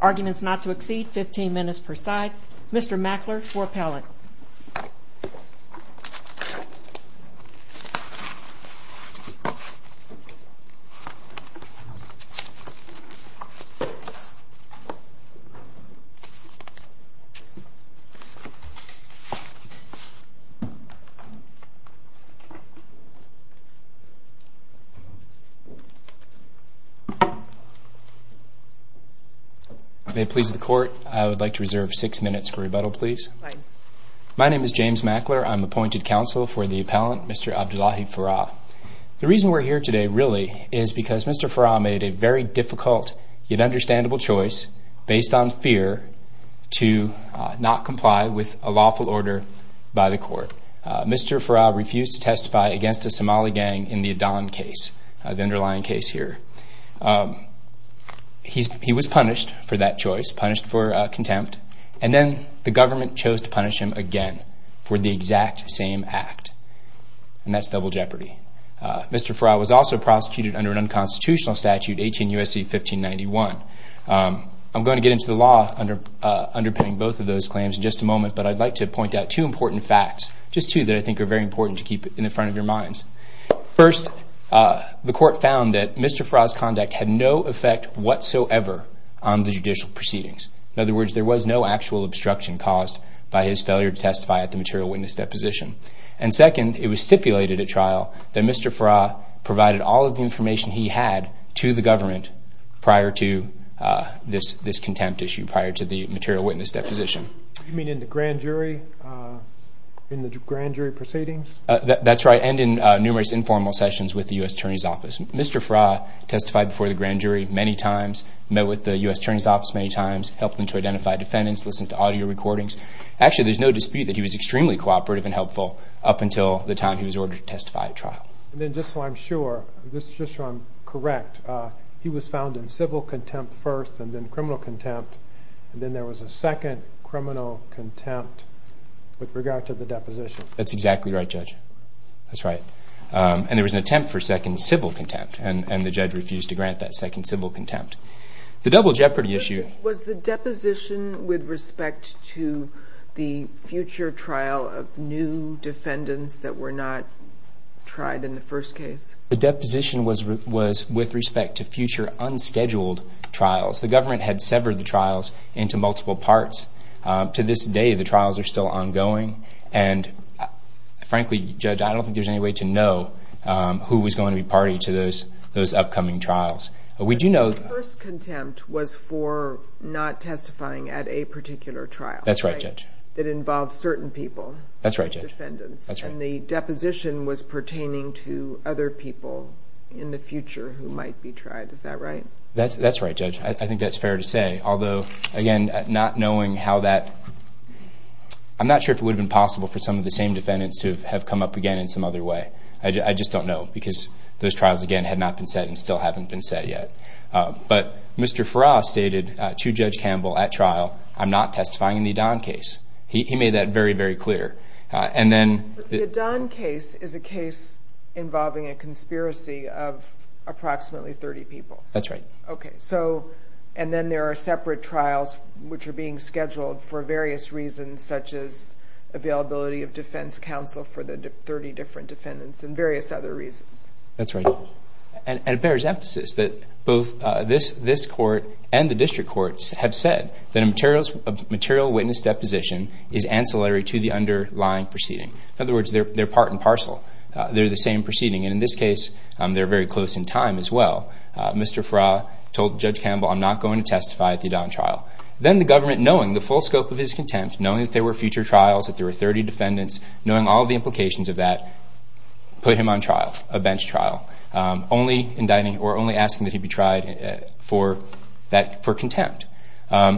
Arguments not to exceed 15 minutes per side. Mr. Mackler for appellate. May it please the court, I would like to reserve six minutes for rebuttal, please. My name is James Mackler. I'm appointed counsel for the appellant, Mr. Abdullahi Farah. The reason we're here today, really, is because Mr. Farah made a very difficult yet understandable choice based on fear to not comply with a lawful order by the court. Mr. Farah refused to testify against the Somali gang in the Adan case, the underlying case here. He was punished for that choice, punished for contempt, and then the government chose to punish him again for the exact same act, and that's double jeopardy. Mr. Farah was also prosecuted under an unconstitutional statute, 18 U.S.C. 1591. I'm going to get into the law underpinning both of those claims in just a moment, but I'd like to point out two important facts, just two that I think are very important to keep in the front of your minds. First, the court found that Mr. Farah's conduct had no effect whatsoever on the judicial proceedings. In other words, there was no actual obstruction caused by his failure to testify at the material witness deposition. And second, it was stipulated at trial that Mr. Farah provided all of the information he had to the government prior to this contempt issue, prior to the material grand jury proceedings? That's right, and in numerous informal sessions with the U.S. Attorney's Office. Mr. Farah testified before the grand jury many times, met with the U.S. Attorney's Office many times, helped them to identify defendants, listened to audio recordings. Actually, there's no dispute that he was extremely cooperative and helpful up until the time he was ordered to testify at trial. And then just so I'm sure, just so I'm correct, he was found in civil contempt first and then criminal contempt, and then there was an attempt for second civil contempt, and the judge refused to grant that second civil contempt. Was the deposition with respect to the future trial of new defendants that were not tried in the first case? The deposition was with respect to future unscheduled trials. The government had severed the trials into multiple parts. To this day, the trials are still ongoing, and frankly, Judge, I don't think there's any way to know who was going to be party to those upcoming trials. But we do know... The first contempt was for not testifying at a particular trial. That's right, Judge. That involved certain people. That's right, Judge. Defendants. That's right. And the deposition was pertaining to other people in the future who might be tried. Is that right? That's right, Judge. I think that's how that... I'm not sure if it would have been possible for some of the same defendants to have come up again in some other way. I just don't know, because those trials, again, had not been set and still haven't been set yet. But Mr. Farrar stated to Judge Campbell at trial, I'm not testifying in the Adan case. He made that very, very clear. And then... The Adan case is a case involving a conspiracy of approximately 30 people. That's right. So... And then there are separate trials which are being scheduled for various reasons, such as availability of defense counsel for the 30 different defendants and various other reasons. That's right. And it bears emphasis that both this court and the district courts have said that a material witness deposition is ancillary to the underlying proceeding. In other words, they're part and parcel. They're the same proceeding. And in this case, they're very close in time as well. Mr. Farrar told Judge Campbell, I'm not going to testify at the Adan trial. Then the government, knowing the full scope of his contempt, knowing that there were future trials, that there were 30 defendants, knowing all the implications of that, put him on trial, a bench trial, only indicting or only asking that he be tried for contempt.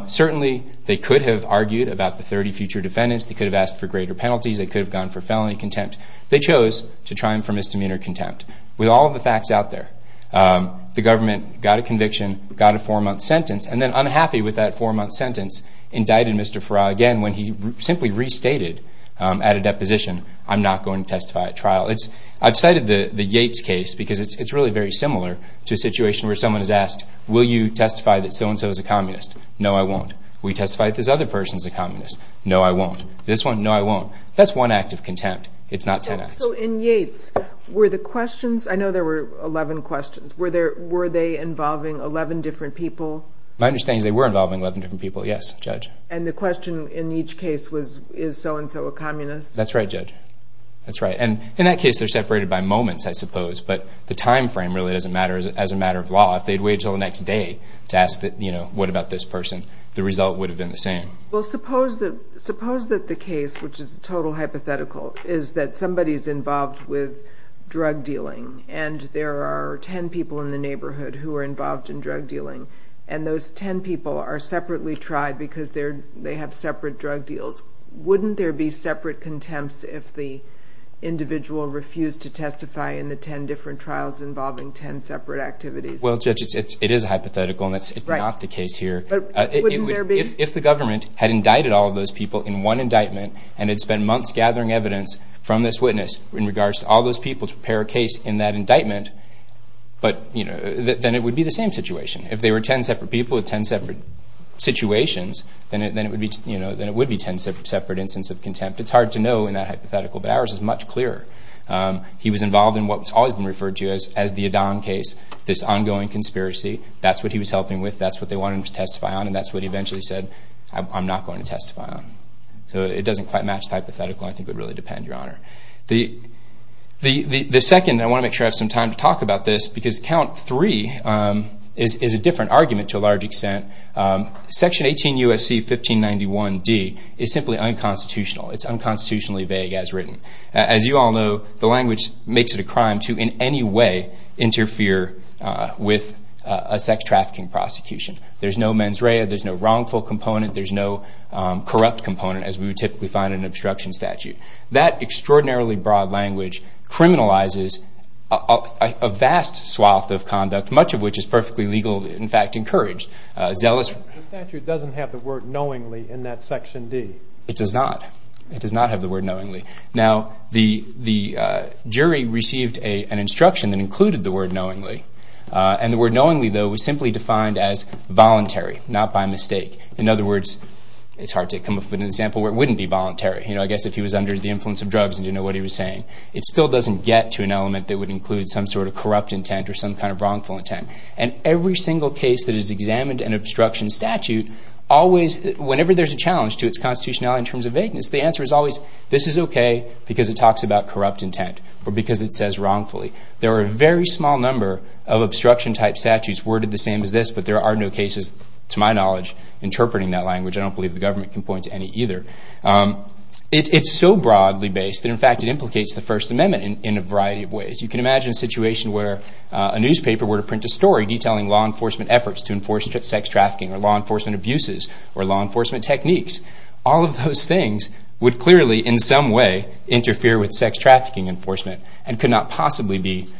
Certainly, they could have argued about the 30 future defendants. They could have asked for greater penalties. They could have gone for felony contempt. They chose to try him for misdemeanor contempt. With all of the facts out there, the government got a conviction, got a four-month sentence, and then, unhappy with that four-month sentence, indicted Mr. Farrar again when he simply restated at a deposition, I'm not going to testify at trial. I've cited the Yates case because it's really very similar to a situation where someone has asked, will you testify that so-and-so is a communist? No, I won't. Will you testify that this other person is a communist? No, I won't. This one? No, I won't. That's one act of contempt. It's not 10 acts. In Yates, were the questions, I know there were 11 questions, were they involving 11 different people? My understanding is they were involving 11 different people, yes, Judge. The question in each case was, is so-and-so a communist? That's right, Judge. That's right. In that case, they're separated by moments, I suppose, but the time frame really doesn't matter as a matter of law. If they'd waited until the next day to ask what about this person, the result would have been the same. Suppose that the case, which is total hypothetical, is that somebody's involved with drug dealing and there are 10 people in the neighborhood who are involved in drug dealing and those 10 people are separately tried because they have separate drug deals. Wouldn't there be separate contempts if the individual refused to testify in the 10 different trials involving 10 separate activities? Well, Judge, it is hypothetical and it's not the case here. Wouldn't there be? If the government had indicted all of those people in one indictment and had spent months gathering evidence from this witness in regards to all those people to prepare a case in that indictment, then it would be the same situation. If they were 10 separate people with 10 separate situations, then it would be 10 separate instances of contempt. It's hard to know in that hypothetical, but ours is much clearer. He was involved in what's always been referred to as the Adan case, this ongoing conspiracy. That's what he was helping with. That's what they wanted him to testify on and that's what he eventually said, I'm not going to testify on. It doesn't quite match the hypothetical. I think it would really depend, Your Honor. The second, I want to make sure I have some time to talk about this because Count 3 is a different argument to a large extent. Section 18 U.S.C. 1591 D is simply unconstitutional. It's unconstitutionally vague as written. As you all know, the language makes it a crime to in any way interfere with a sex trafficking prosecution. There's no mens rea, there's no wrongful component, there's no corrupt component as we would typically find in an obstruction statute. That extraordinarily broad language criminalizes a vast swath of conduct, much of which is perfectly legal, in fact, encouraged. Zealous... The statute doesn't have the word knowingly in that section D. It does not. It does not have the word knowingly. Now, the jury received an instruction that included the word knowingly and the word knowingly, though, was simply defined as voluntary, not by mistake. In other words, it's hard to come up with an example where it wouldn't be voluntary. I guess if he was under the influence of drugs and didn't know what he was saying. It still doesn't get to an element that would include some sort of corrupt intent or some kind of wrongful intent. And every single case that is examined in an obstruction statute, always, whenever there's a challenge to its constitutionality in terms of vagueness, the answer is always, this is okay because it talks about corrupt intent or because it says wrongfully. There are a very small number of obstruction type statutes worded the same as this, but there are no cases, to my knowledge, interpreting that language. I don't believe the government can point to any either. It's so broadly based that, in fact, it implicates the First Amendment in a variety of ways. You can imagine a situation where a newspaper were to print a story detailing law enforcement efforts to enforce sex trafficking or law enforcement abuses or law enforcement techniques. All of those things would clearly, in some way, interfere with sex trafficking enforcement and could not possibly be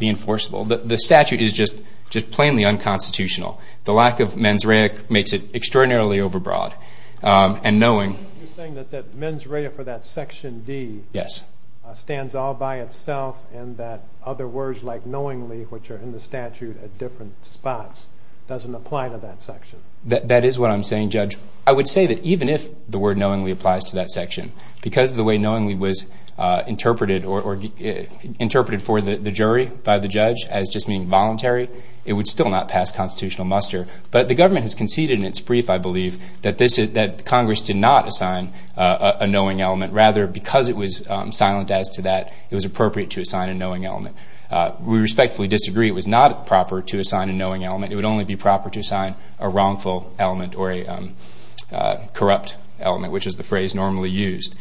enforceable. The statute is just plainly unconstitutional. The lack of mens rea makes it extraordinarily overbroad. You're saying that mens rea for that section D stands all by itself and that other words like knowingly, which are in the statute at different spots, doesn't apply to that section? That is what I'm saying, Judge. I would say that even if the word knowingly applies to that section, because of the way knowingly was interpreted for the jury by the judge as just being voluntary, it would still not pass constitutional muster. But the government has conceded in its brief, I believe, that Congress did not assign a knowing element. Rather, because it was silent as to that, it was appropriate to assign a knowing element. We respectfully disagree. It was not proper to assign a knowing element. It would only be proper to assign a wrongful element or a corrupt element, which is the phrase normally used.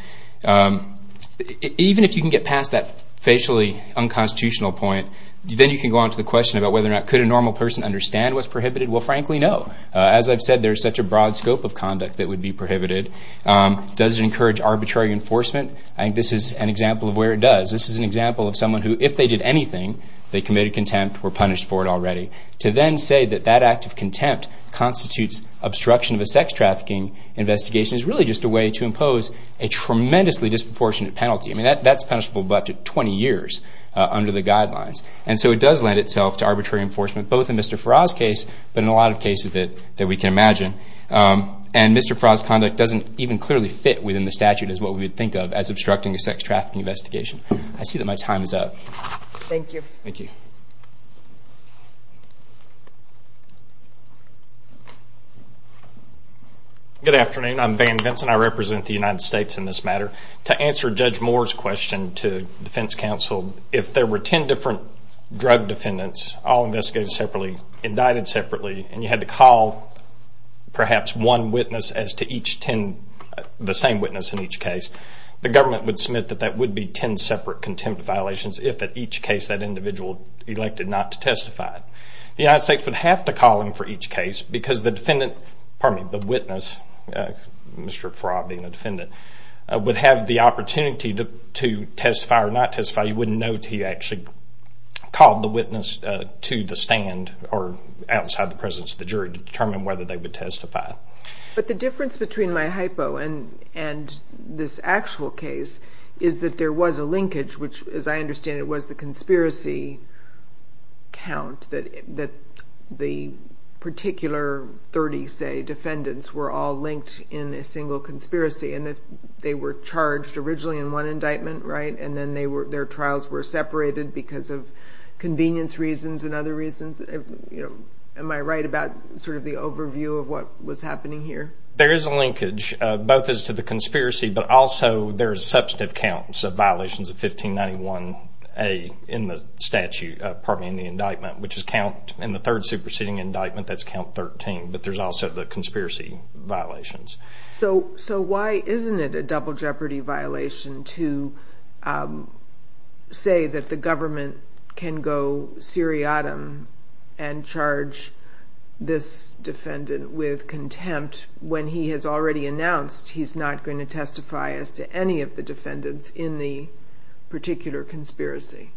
Even if you can get past that facially unconstitutional point, then you can go on to the question about whether or not could a normal person understand what's prohibited? Well, frankly, no. As I've said, there's such a broad scope of conduct that would be prohibited. Does it encourage arbitrary enforcement? I think this is an example of where it does. This is an example of someone who, if they did anything, they committed contempt, were punished for it already. To then say that that act of contempt constitutes obstruction of a sex trafficking investigation is really just a way to impose a tremendously disproportionate penalty. I mean, that's punishable by up to 20 years under the guidelines. And so it does lend itself to arbitrary enforcement, both in Mr. Farrar's case, but in a lot of cases that we can imagine. And Mr. Farrar's conduct doesn't even clearly fit within the statute as what we would think of as obstructing a sex trafficking investigation. I see that my time is up. Thank you. Thank you. Good afternoon. I'm Van Vinson. I represent the United States in this matter. To answer Judge Moore's question to defense counsel, if there were 10 different drug defendants, all investigated separately, indicted separately, and you had to call perhaps one witness as to each 10, the same witness in each case, the government would submit that that would be 10 separate contempt violations if at each case that individual elected not to testify. The United States would have to call him for each case because the witness, Mr. Farrar being a defendant, would have the opportunity to testify or not testify. You wouldn't know until you actually called the witness to the jury to determine whether they would testify. But the difference between my hypo and this actual case is that there was a linkage, which as I understand it was the conspiracy count, that the particular 30, say, defendants were all linked in a single conspiracy and that they were charged originally in one indictment, right, and then their trials were separated because of convenience reasons and other reasons. Am I right about sort of the overview of what was happening here? There is a linkage, both as to the conspiracy, but also there's substantive counts of violations of 1591A in the statute, pardon me, in the indictment, which is count in the third superseding indictment, that's count 13, but there's also the conspiracy violations. So why isn't it a double jeopardy violation to say that the government was not going to testify? The government can go seriatim and charge this defendant with contempt when he has already announced he's not going to testify as to any of the defendants in the particular conspiracy.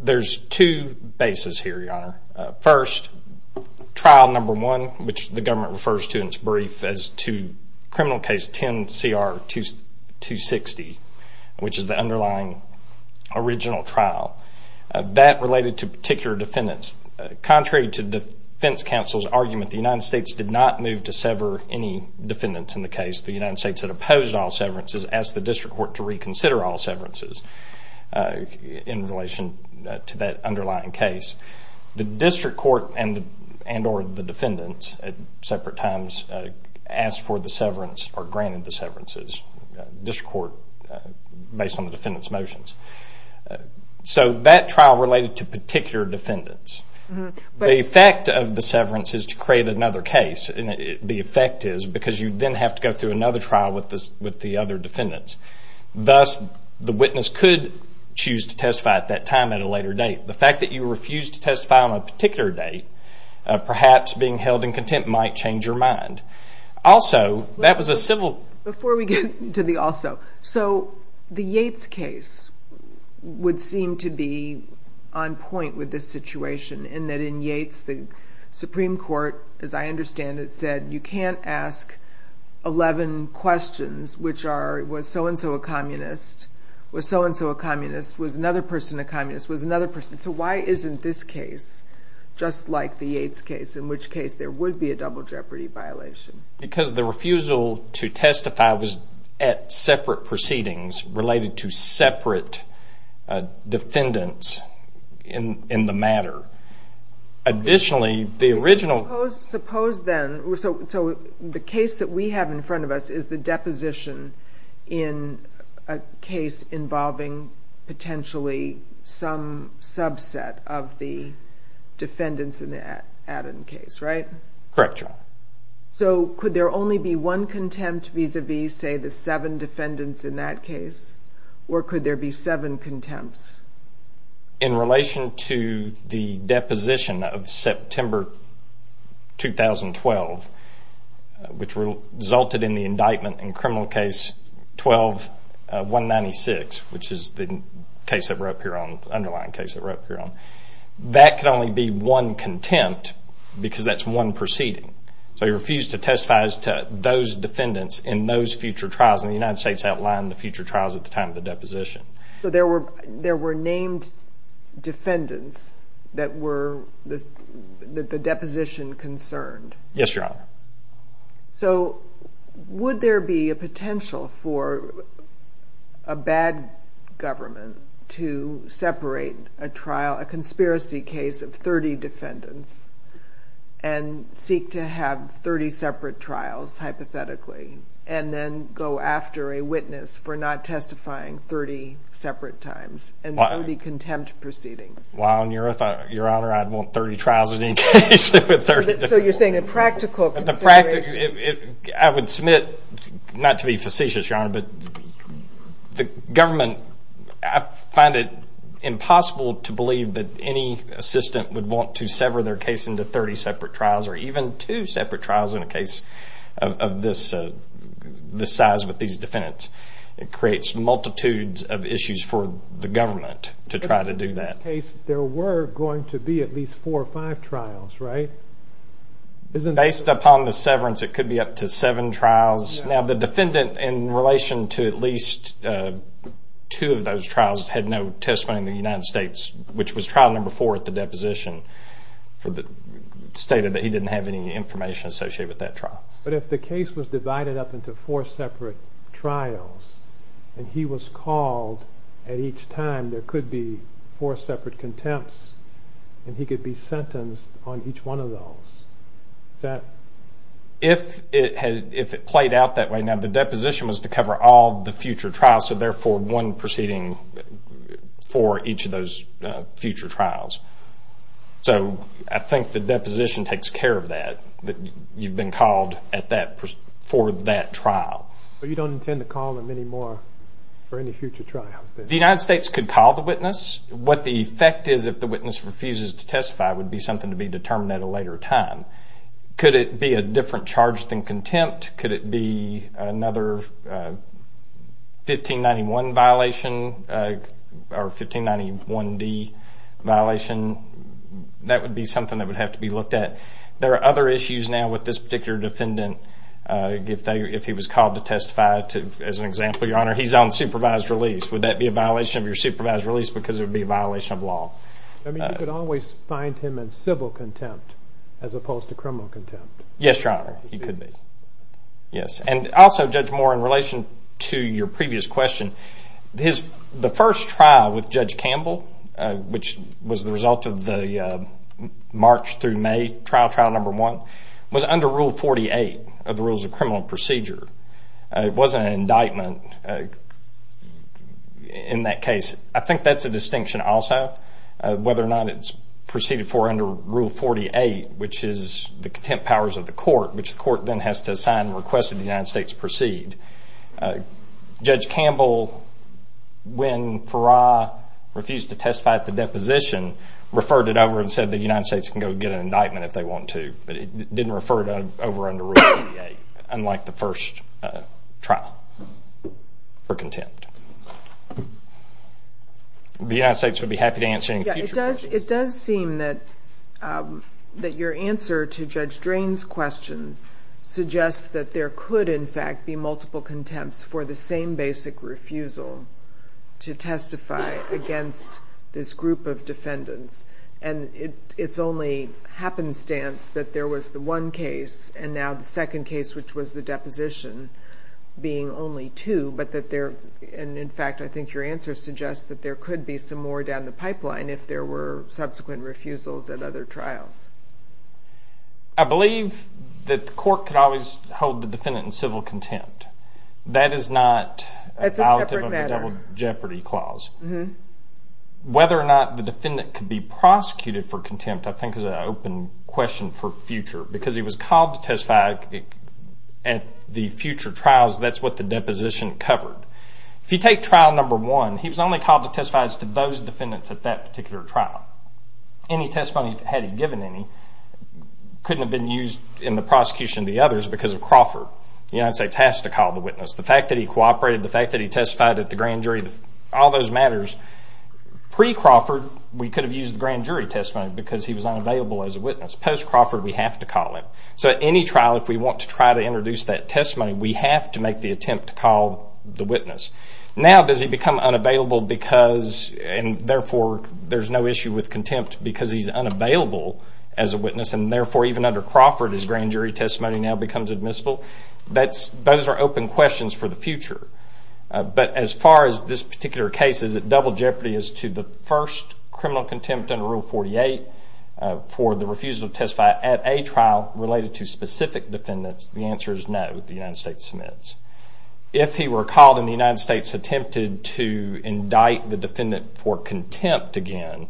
There's two bases here, Your Honor. First, trial number one, which the government refers to in its brief as to criminal case 10CR-260, which is the underlying original trial. That related to particular defendants. Contrary to defense counsel's argument, the United States did not move to sever any defendants in the case. The United States had opposed all severances, asked the district court to reconsider all severances in relation to that underlying case. The district court and or the defendants at separate times asked for the severance or granted the severances. District court based on the defendant's motions. So that trial related to particular defendants. The effect of the severance is to create another case. The effect is because you then have to go through another trial with the other defendants. Thus, the witness could choose to testify at that time at a later date. The fact that you refused to testify on a particular date, perhaps being held in contempt might change your mind. Also, that was a civil... Before we get to the also, the Yates case would seem to be on point with this situation in that in Yates, the Supreme Court, as I understand it, said you can't ask 11 questions which are, was so and so a communist? Was so and so a communist? Was another person a communist? Was another person? So why isn't this case just like the Yates case, in which case there would be a double jeopardy violation? Because the refusal to testify was at separate proceedings related to separate defendants in the matter. Additionally, the original... Suppose then, so the case that we have in front of us is the deposition in a case involving potentially some subset of the defendants in the Adden case, right? Correct, Your Honor. So could there only be one contempt vis-a-vis, say, the seven defendants in that case? Or could there be seven contempts? In relation to the deposition of September 2012, which resulted in the indictment in the case that we're up here on, the underlying case that we're up here on, that could only be one contempt because that's one proceeding. So he refused to testify as to those defendants in those future trials, and the United States outlined the future trials at the time of the deposition. So there were named defendants that were the deposition concerned? Yes, Your Honor. So would there be a potential for a bad government to separate a trial, a conspiracy case of 30 defendants, and seek to have 30 separate trials, hypothetically, and then go after a witness for not testifying 30 separate times, and that would be contempt proceedings? Well, Your Honor, I'd want 30 trials in any case with 30 defendants. So you're saying a practical consideration? I would submit, not to be facetious, Your Honor, but the government, I find it impossible to believe that any assistant would want to sever their case into 30 separate trials, or even two separate trials in a case of this size with these defendants. It creates multitudes of issues for the government to try to do that. In this case, there were going to be at least four or five trials, right? Based upon the severance, it could be up to seven trials. Now the defendant, in relation to at least two of those trials, had no testimony in the United States, which was trial number four at the deposition, stated that he didn't have any information associated with that trial. But if the case was divided up into four separate trials, and he was called at each time, there would be four separate contempts, and he could be sentenced on each one of those. If it played out that way, now the deposition was to cover all the future trials, so therefore one proceeding for each of those future trials. So I think the deposition takes care of that, that you've been called for that trial. But you don't intend to call them anymore for any future trials? The United States could call the witness. What the effect is if the witness refuses to testify would be something to be determined at a later time. Could it be a different charge than contempt? Could it be another 1591 violation or 1591D violation? That would be something that would have to be looked at. There are other issues now with this particular defendant. If he was called to testify, as I said, that would be a violation of your supervised release because it would be a violation of law. You could always find him in civil contempt as opposed to criminal contempt? Yes, Your Honor, you could be. Also, Judge Moore, in relation to your previous question, the first trial with Judge Campbell, which was the result of the March through May trial, trial number one, was under Rule 48 of the Rules of Criminal Procedure. It wasn't an indictment in that case. I think that's a distinction also, whether or not it's proceeded for under Rule 48, which is the contempt powers of the court, which the court then has to sign and request that the United States proceed. Judge Campbell, when Farrar refused to testify at the deposition, referred it over and said the United States can go get an indictment if they want to, but he didn't refer it over under Rule 48, unlike the first trial for contempt. The United States would be happy to answer any future questions. It does seem that your answer to Judge Drain's questions suggests that there could, in fact, be multiple contempts for the same basic refusal to testify against this group of defendants. It's only happenstance that there was the one case and now the second case, which was the deposition, being only two. In fact, I think your answer suggests that there could be some more down the pipeline if there were subsequent refusals at other trials. I believe that the court could always hold the defendant in civil contempt. That is not a double jeopardy clause. Whether or not the defendant could be prosecuted for contempt, I think, is an open question for future. Because he was called to testify at the future trials, that's what the deposition covered. If you take trial number one, he was only called to testify to those defendants at that particular trial. Any testimony, had he given any, couldn't have been used in the prosecution of the others because of Crawford. The United States has to call the witness. The fact that he cooperated, the fact that he testified at the grand jury, all those matters. Pre-Crawford, we could have used the grand jury testimony because he was unavailable as a witness. Post-Crawford, we have to call him. So at any trial, if we want to try to introduce that testimony, we have to make the attempt to call the witness. Now, does he become unavailable because, and therefore there's no issue with contempt because he's unavailable as a witness, and therefore even under Crawford, his grand jury testimony now becomes admissible? Those are open questions for the future. But as far as this particular case, is it double jeopardy as to the first criminal contempt under Rule 48 for the refusal to testify at a trial related to specific defendants? The answer is no, the United States submits. If he were called and the United States attempted to indict the defendant for contempt again,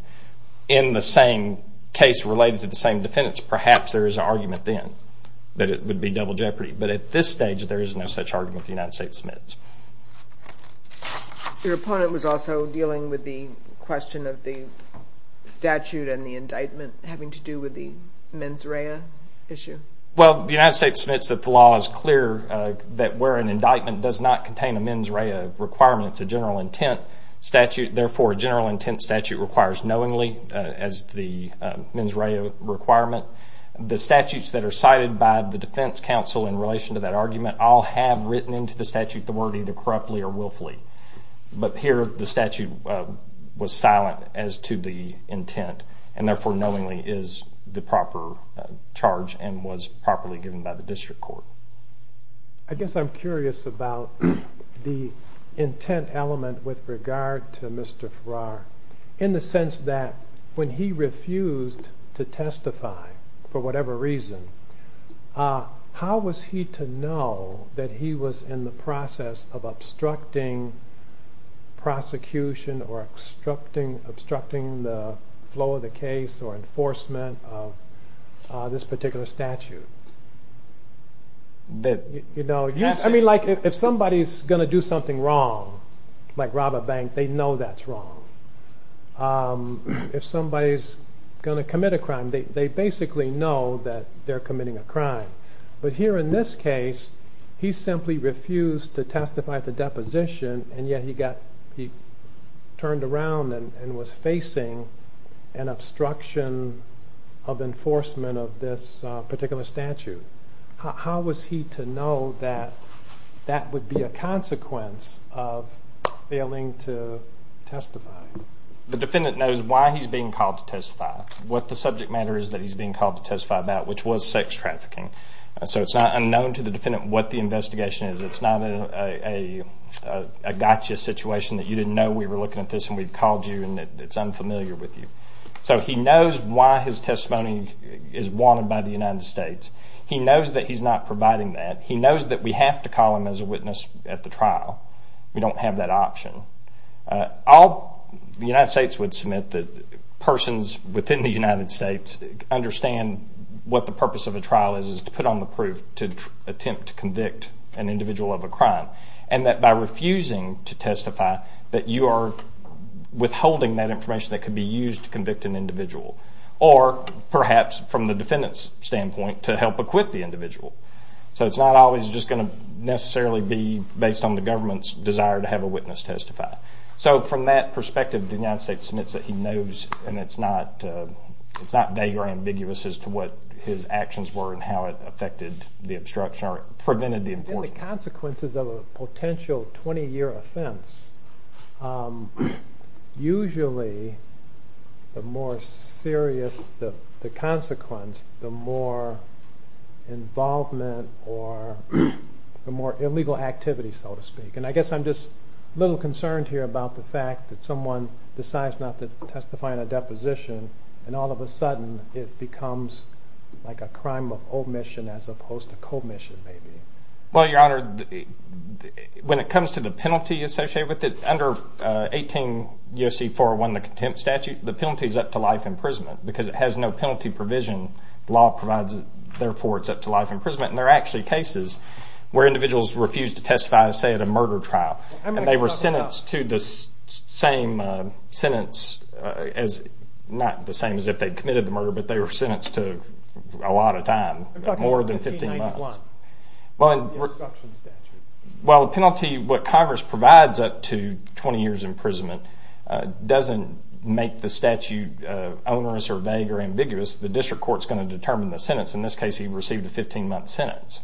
in the same case related to the same defendants, perhaps there is an argument then that it would be double jeopardy. But at this stage, there is no such argument. The United States submits. Your opponent was also dealing with the question of the statute and the indictment having to do with the mens rea issue? Well, the United States submits that the law is clear that where an indictment does not contain a mens rea requirement, it's a general intent statute. Therefore, a general intent statute requires knowingly as the mens rea requirement. The statutes that are cited by the defense counsel in relation to that argument all have written into the statute the word either corruptly or willfully. But here, the statute was silent as to the intent, and therefore knowingly is the proper charge and was properly given by the district court. I guess I'm curious about the intent element with regard to Mr. Farrar in the sense that when he refused to testify for whatever reason, how was he to know that he was in the process of obstructing prosecution or obstructing the flow of the case or enforcement of this particular statute? I mean, if somebody's going to do something wrong, like rob a bank, they know that's wrong. If somebody's going to commit a crime, they basically know that they're committing a crime. But here in this case, he simply refused to testify at the How was he to know that that would be a consequence of failing to testify? The defendant knows why he's being called to testify, what the subject matter is that he's being called to testify about, which was sex trafficking. So it's not unknown to the defendant what the investigation is. It's not a gotcha situation that you didn't know we were looking at this and we called you and it's unfamiliar with you. So he knows why his testimony is wanted by the United States. He knows that he's not providing that. He knows that we have to call him as a witness at the trial. We don't have that option. The United States would submit that persons within the United States understand what the purpose of a trial is, is to put on the proof to attempt to convict an individual of a crime. And that by refusing to testify, that you are withholding that information that could be used to convict an individual. Or perhaps from the defendant's standpoint, to help acquit the individual. So it's not always just going to necessarily be based on the government's desire to have a witness testify. So from that perspective, the United States submits that he knows and it's not vague or ambiguous as to what his actions were and how it affected the obstruction or prevented the enforcement. What are the consequences of a potential 20 year offense? Usually the more serious the consequence, the more involvement or the more illegal activity so to speak. And I guess I'm just a little concerned here about the fact that someone decides not to testify in a deposition and all of a sudden it becomes like a crime of omission as opposed to commission maybe. Well your honor, when it comes to the penalty associated with it, under 18 U.S.C. 401, the contempt statute, the penalty is up to life imprisonment because it has no penalty provision. The law provides it, therefore it's up to life imprisonment. And there are actually cases where individuals refuse to testify, say at a murder trial. And they were sentenced to the same sentence, not the same as if they committed the murder, but they were sentenced to a lot of time, more than 15 months. What about the obstruction statute? Well the penalty, what Congress provides up to 20 years imprisonment doesn't make the statute onerous or vague or ambiguous. The district court is going to determine the sentence. In this case he received a 15 month sentence.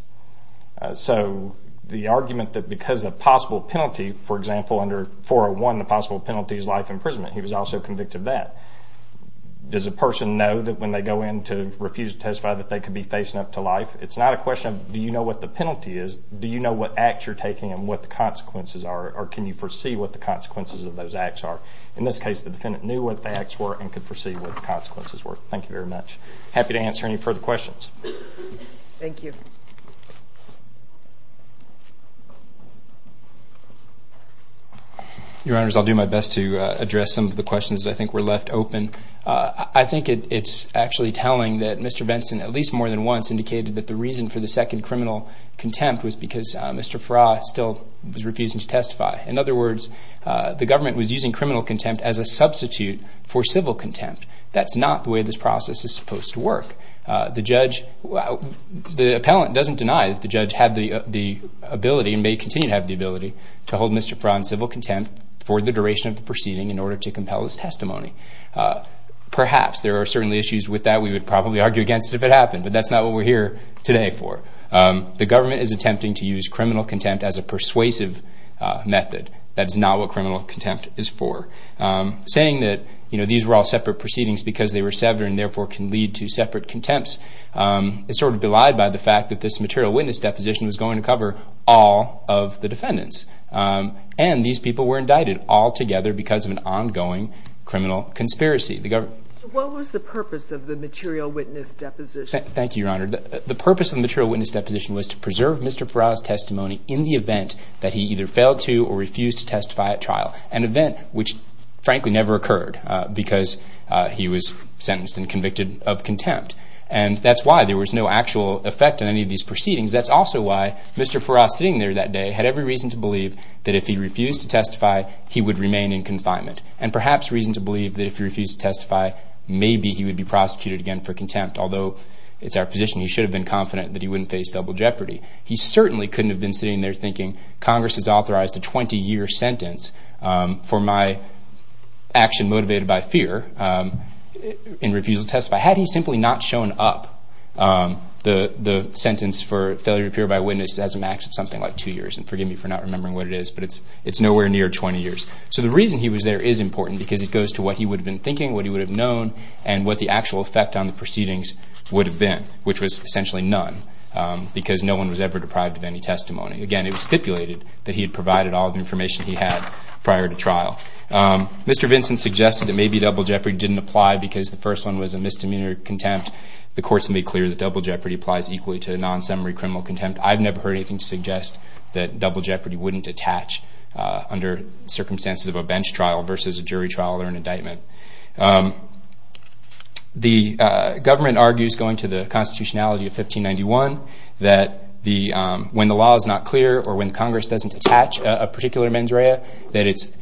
So the argument that because of possible penalty, for example under 401, the possible penalty is life imprisonment, he was also convicted of that. Does a person know that when they go in to refuse to testify that they could be facing up to life? It's not a question of do you know what the penalty is, do you know what acts you're taking and what the consequences are, or can you foresee what the consequences of those acts are. In this case the defendant knew what the acts were and could foresee what the consequences were. Thank you very much. Happy to answer any further questions. Thank you. Your Honors, I'll do my best to address some of the questions that I think were left open. I think it's actually telling that Mr. Benson at least more than once indicated that the reason for the second criminal contempt was because Mr. Farrar still was refusing to testify. In other words, the government was using criminal contempt as a substitute for civil contempt. That's not the way this process is supposed to work. The government doesn't deny that the judge had the ability and may continue to have the ability to hold Mr. Farrar in civil contempt for the duration of the proceeding in order to compel his testimony. Perhaps there are certainly issues with that we would probably argue against if it happened, but that's not what we're here today for. The government is attempting to use criminal contempt as a persuasive method. That is not what criminal contempt is for. Saying that these were all separate proceedings because they were severed and therefore can lead to separate contempts is sort of belied by the fact that this material witness deposition was going to cover all of the defendants, and these people were indicted altogether because of an ongoing criminal conspiracy. What was the purpose of the material witness deposition? Thank you, Your Honor. The purpose of the material witness deposition was to preserve Mr. Farrar's testimony in the event that he either failed to or refused to testify at trial, an event which frankly never occurred because he was sentenced and convicted of contempt. And that's why there was no actual effect on any of these proceedings. That's also why Mr. Farrar sitting there that day had every reason to believe that if he refused to testify, he would remain in confinement, and perhaps reason to believe that if he refused to testify, maybe he would be prosecuted again for contempt, although it's our position he should have been confident that he wouldn't face double jeopardy. He certainly couldn't have been sitting there thinking Congress has authorized a 20-year sentence for my action motivated by fear in refusal to testify. Had he simply not shown up, the sentence for failure to appear by witness has a max of something like 2 years, and forgive me for not remembering what it is, but it's nowhere near 20 years. So the reason he was there is important because it goes to what he would have been thinking, what he would have known, and what the actual effect on the proceedings would have been, which was essentially none because no one was ever deprived of any testimony. Again, it was stipulated that he had provided all the information he had prior to trial. Mr. Vinson suggested that maybe double jeopardy didn't apply because the first one was a misdemeanor contempt. The court's made clear that double jeopardy applies equally to a non-summary criminal contempt. I've never heard anything suggest that double jeopardy wouldn't attach under circumstances of a bench trial versus a jury trial or an indictment. The government argues, going to the constitutionality of 1591, that when the law is not clear or when Congress doesn't attach a particular mens rea, that it's,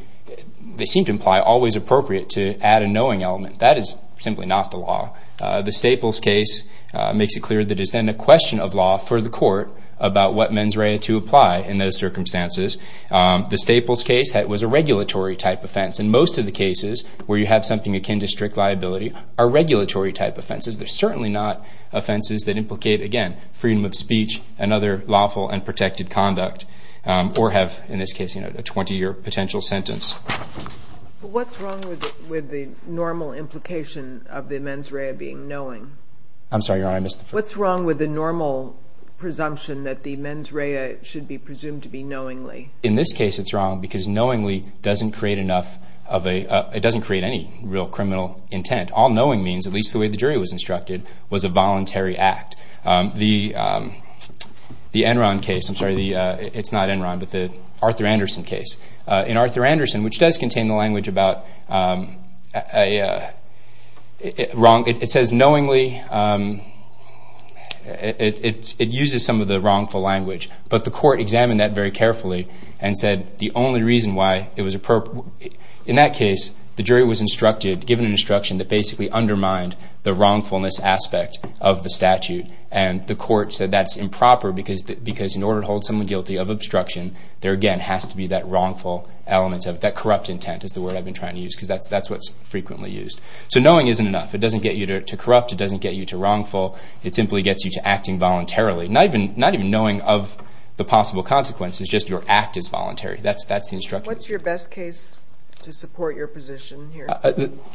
they seem to imply, always appropriate to add a knowing element. That is simply not the law. The Staples case makes it clear that it's then a question of law for the court about what mens rea to apply in those circumstances. The Staples case was a regulatory type offense. In most of the cases where you have something akin to strict liability are regulatory type offenses. They're certainly not offenses that implicate, again, freedom of speech and other lawful and protected conduct or have, in this case, you know, a 20-year potential sentence. What's wrong with the normal implication of the mens rea being knowing? I'm sorry, Your Honor, I missed the first part. What's wrong with the normal presumption that the mens rea should be presumed to be knowingly? In this case, it's wrong because knowingly doesn't create enough of a, it doesn't create any real criminal intent. All knowing means, at least the way the jury was instructed, was a voluntary act. The Enron case, I'm sorry, it's not Enron, but the Arthur Anderson case. In Arthur Anderson, which does contain the language about a wrong, it says knowingly, it uses some of the wrongful language, but the court examined that very carefully and said the only reason why it was appropriate. In that case, the jury was instructed, given an instruction, that basically undermined the wrongfulness aspect of the statute, and the court said that's improper because in order to hold someone guilty of obstruction, there, again, has to be that wrongful element, that corrupt intent is the word I've been trying to use because that's what's frequently used. So knowing isn't enough. It doesn't get you to corrupt. It doesn't get you to wrongful. It simply gets you to acting voluntarily. Not even knowing of the possible consequences, just your act is voluntary. That's the instruction. What's your best case to support your position here?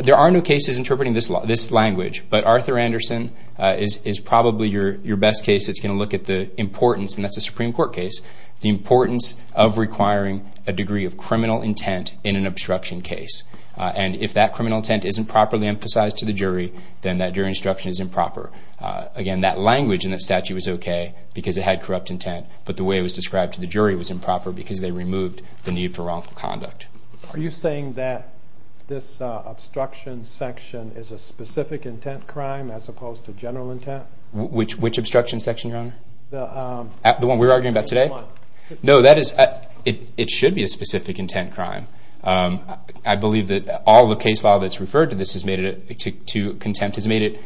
There are no cases interpreting this language, but Arthur Anderson is probably your best case that's going to look at the importance, and that's a Supreme Court case, the importance of requiring a degree of criminal intent in an obstruction case. And if that criminal intent isn't properly emphasized to the jury, then that jury instruction is improper. Again, that language in that statute was okay because it had corrupt intent, but the way it was described to the jury was improper because they removed the need for wrongful conduct. Are you saying that this obstruction section is a specific intent crime as opposed to general intent? Which obstruction section, Your Honor? The one we're arguing about today? No, it should be a specific intent crime. I believe that all the case law that's referred to contempt has made it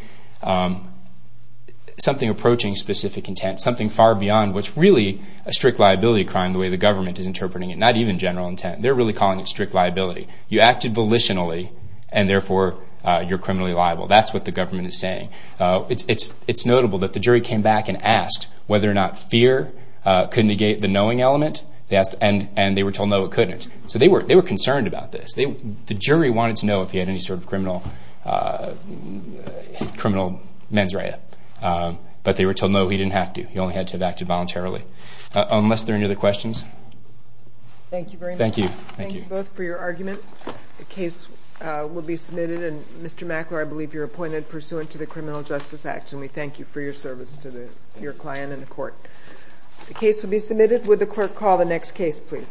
something approaching specific intent, something far beyond what's really a strict liability crime the way the government is interpreting it, not even general intent. They're really calling it strict liability. You acted volitionally, and therefore you're criminally liable. That's what the government is saying. It's notable that the jury came back and asked whether or not fear could negate the knowing element, and they were told no, it couldn't. So they were concerned about this. The jury wanted to know if he had any sort of criminal mens rea, but they were told no, he didn't have to. He only had to have acted voluntarily. Unless there are any other questions? Thank you very much. Thank you. Thank you both for your argument. The case will be submitted, and Mr. Mackler, I believe you're appointed pursuant to the Criminal Justice Act, and we thank you for your service to your client and the court. The case will be submitted. Would the clerk call the next case, please?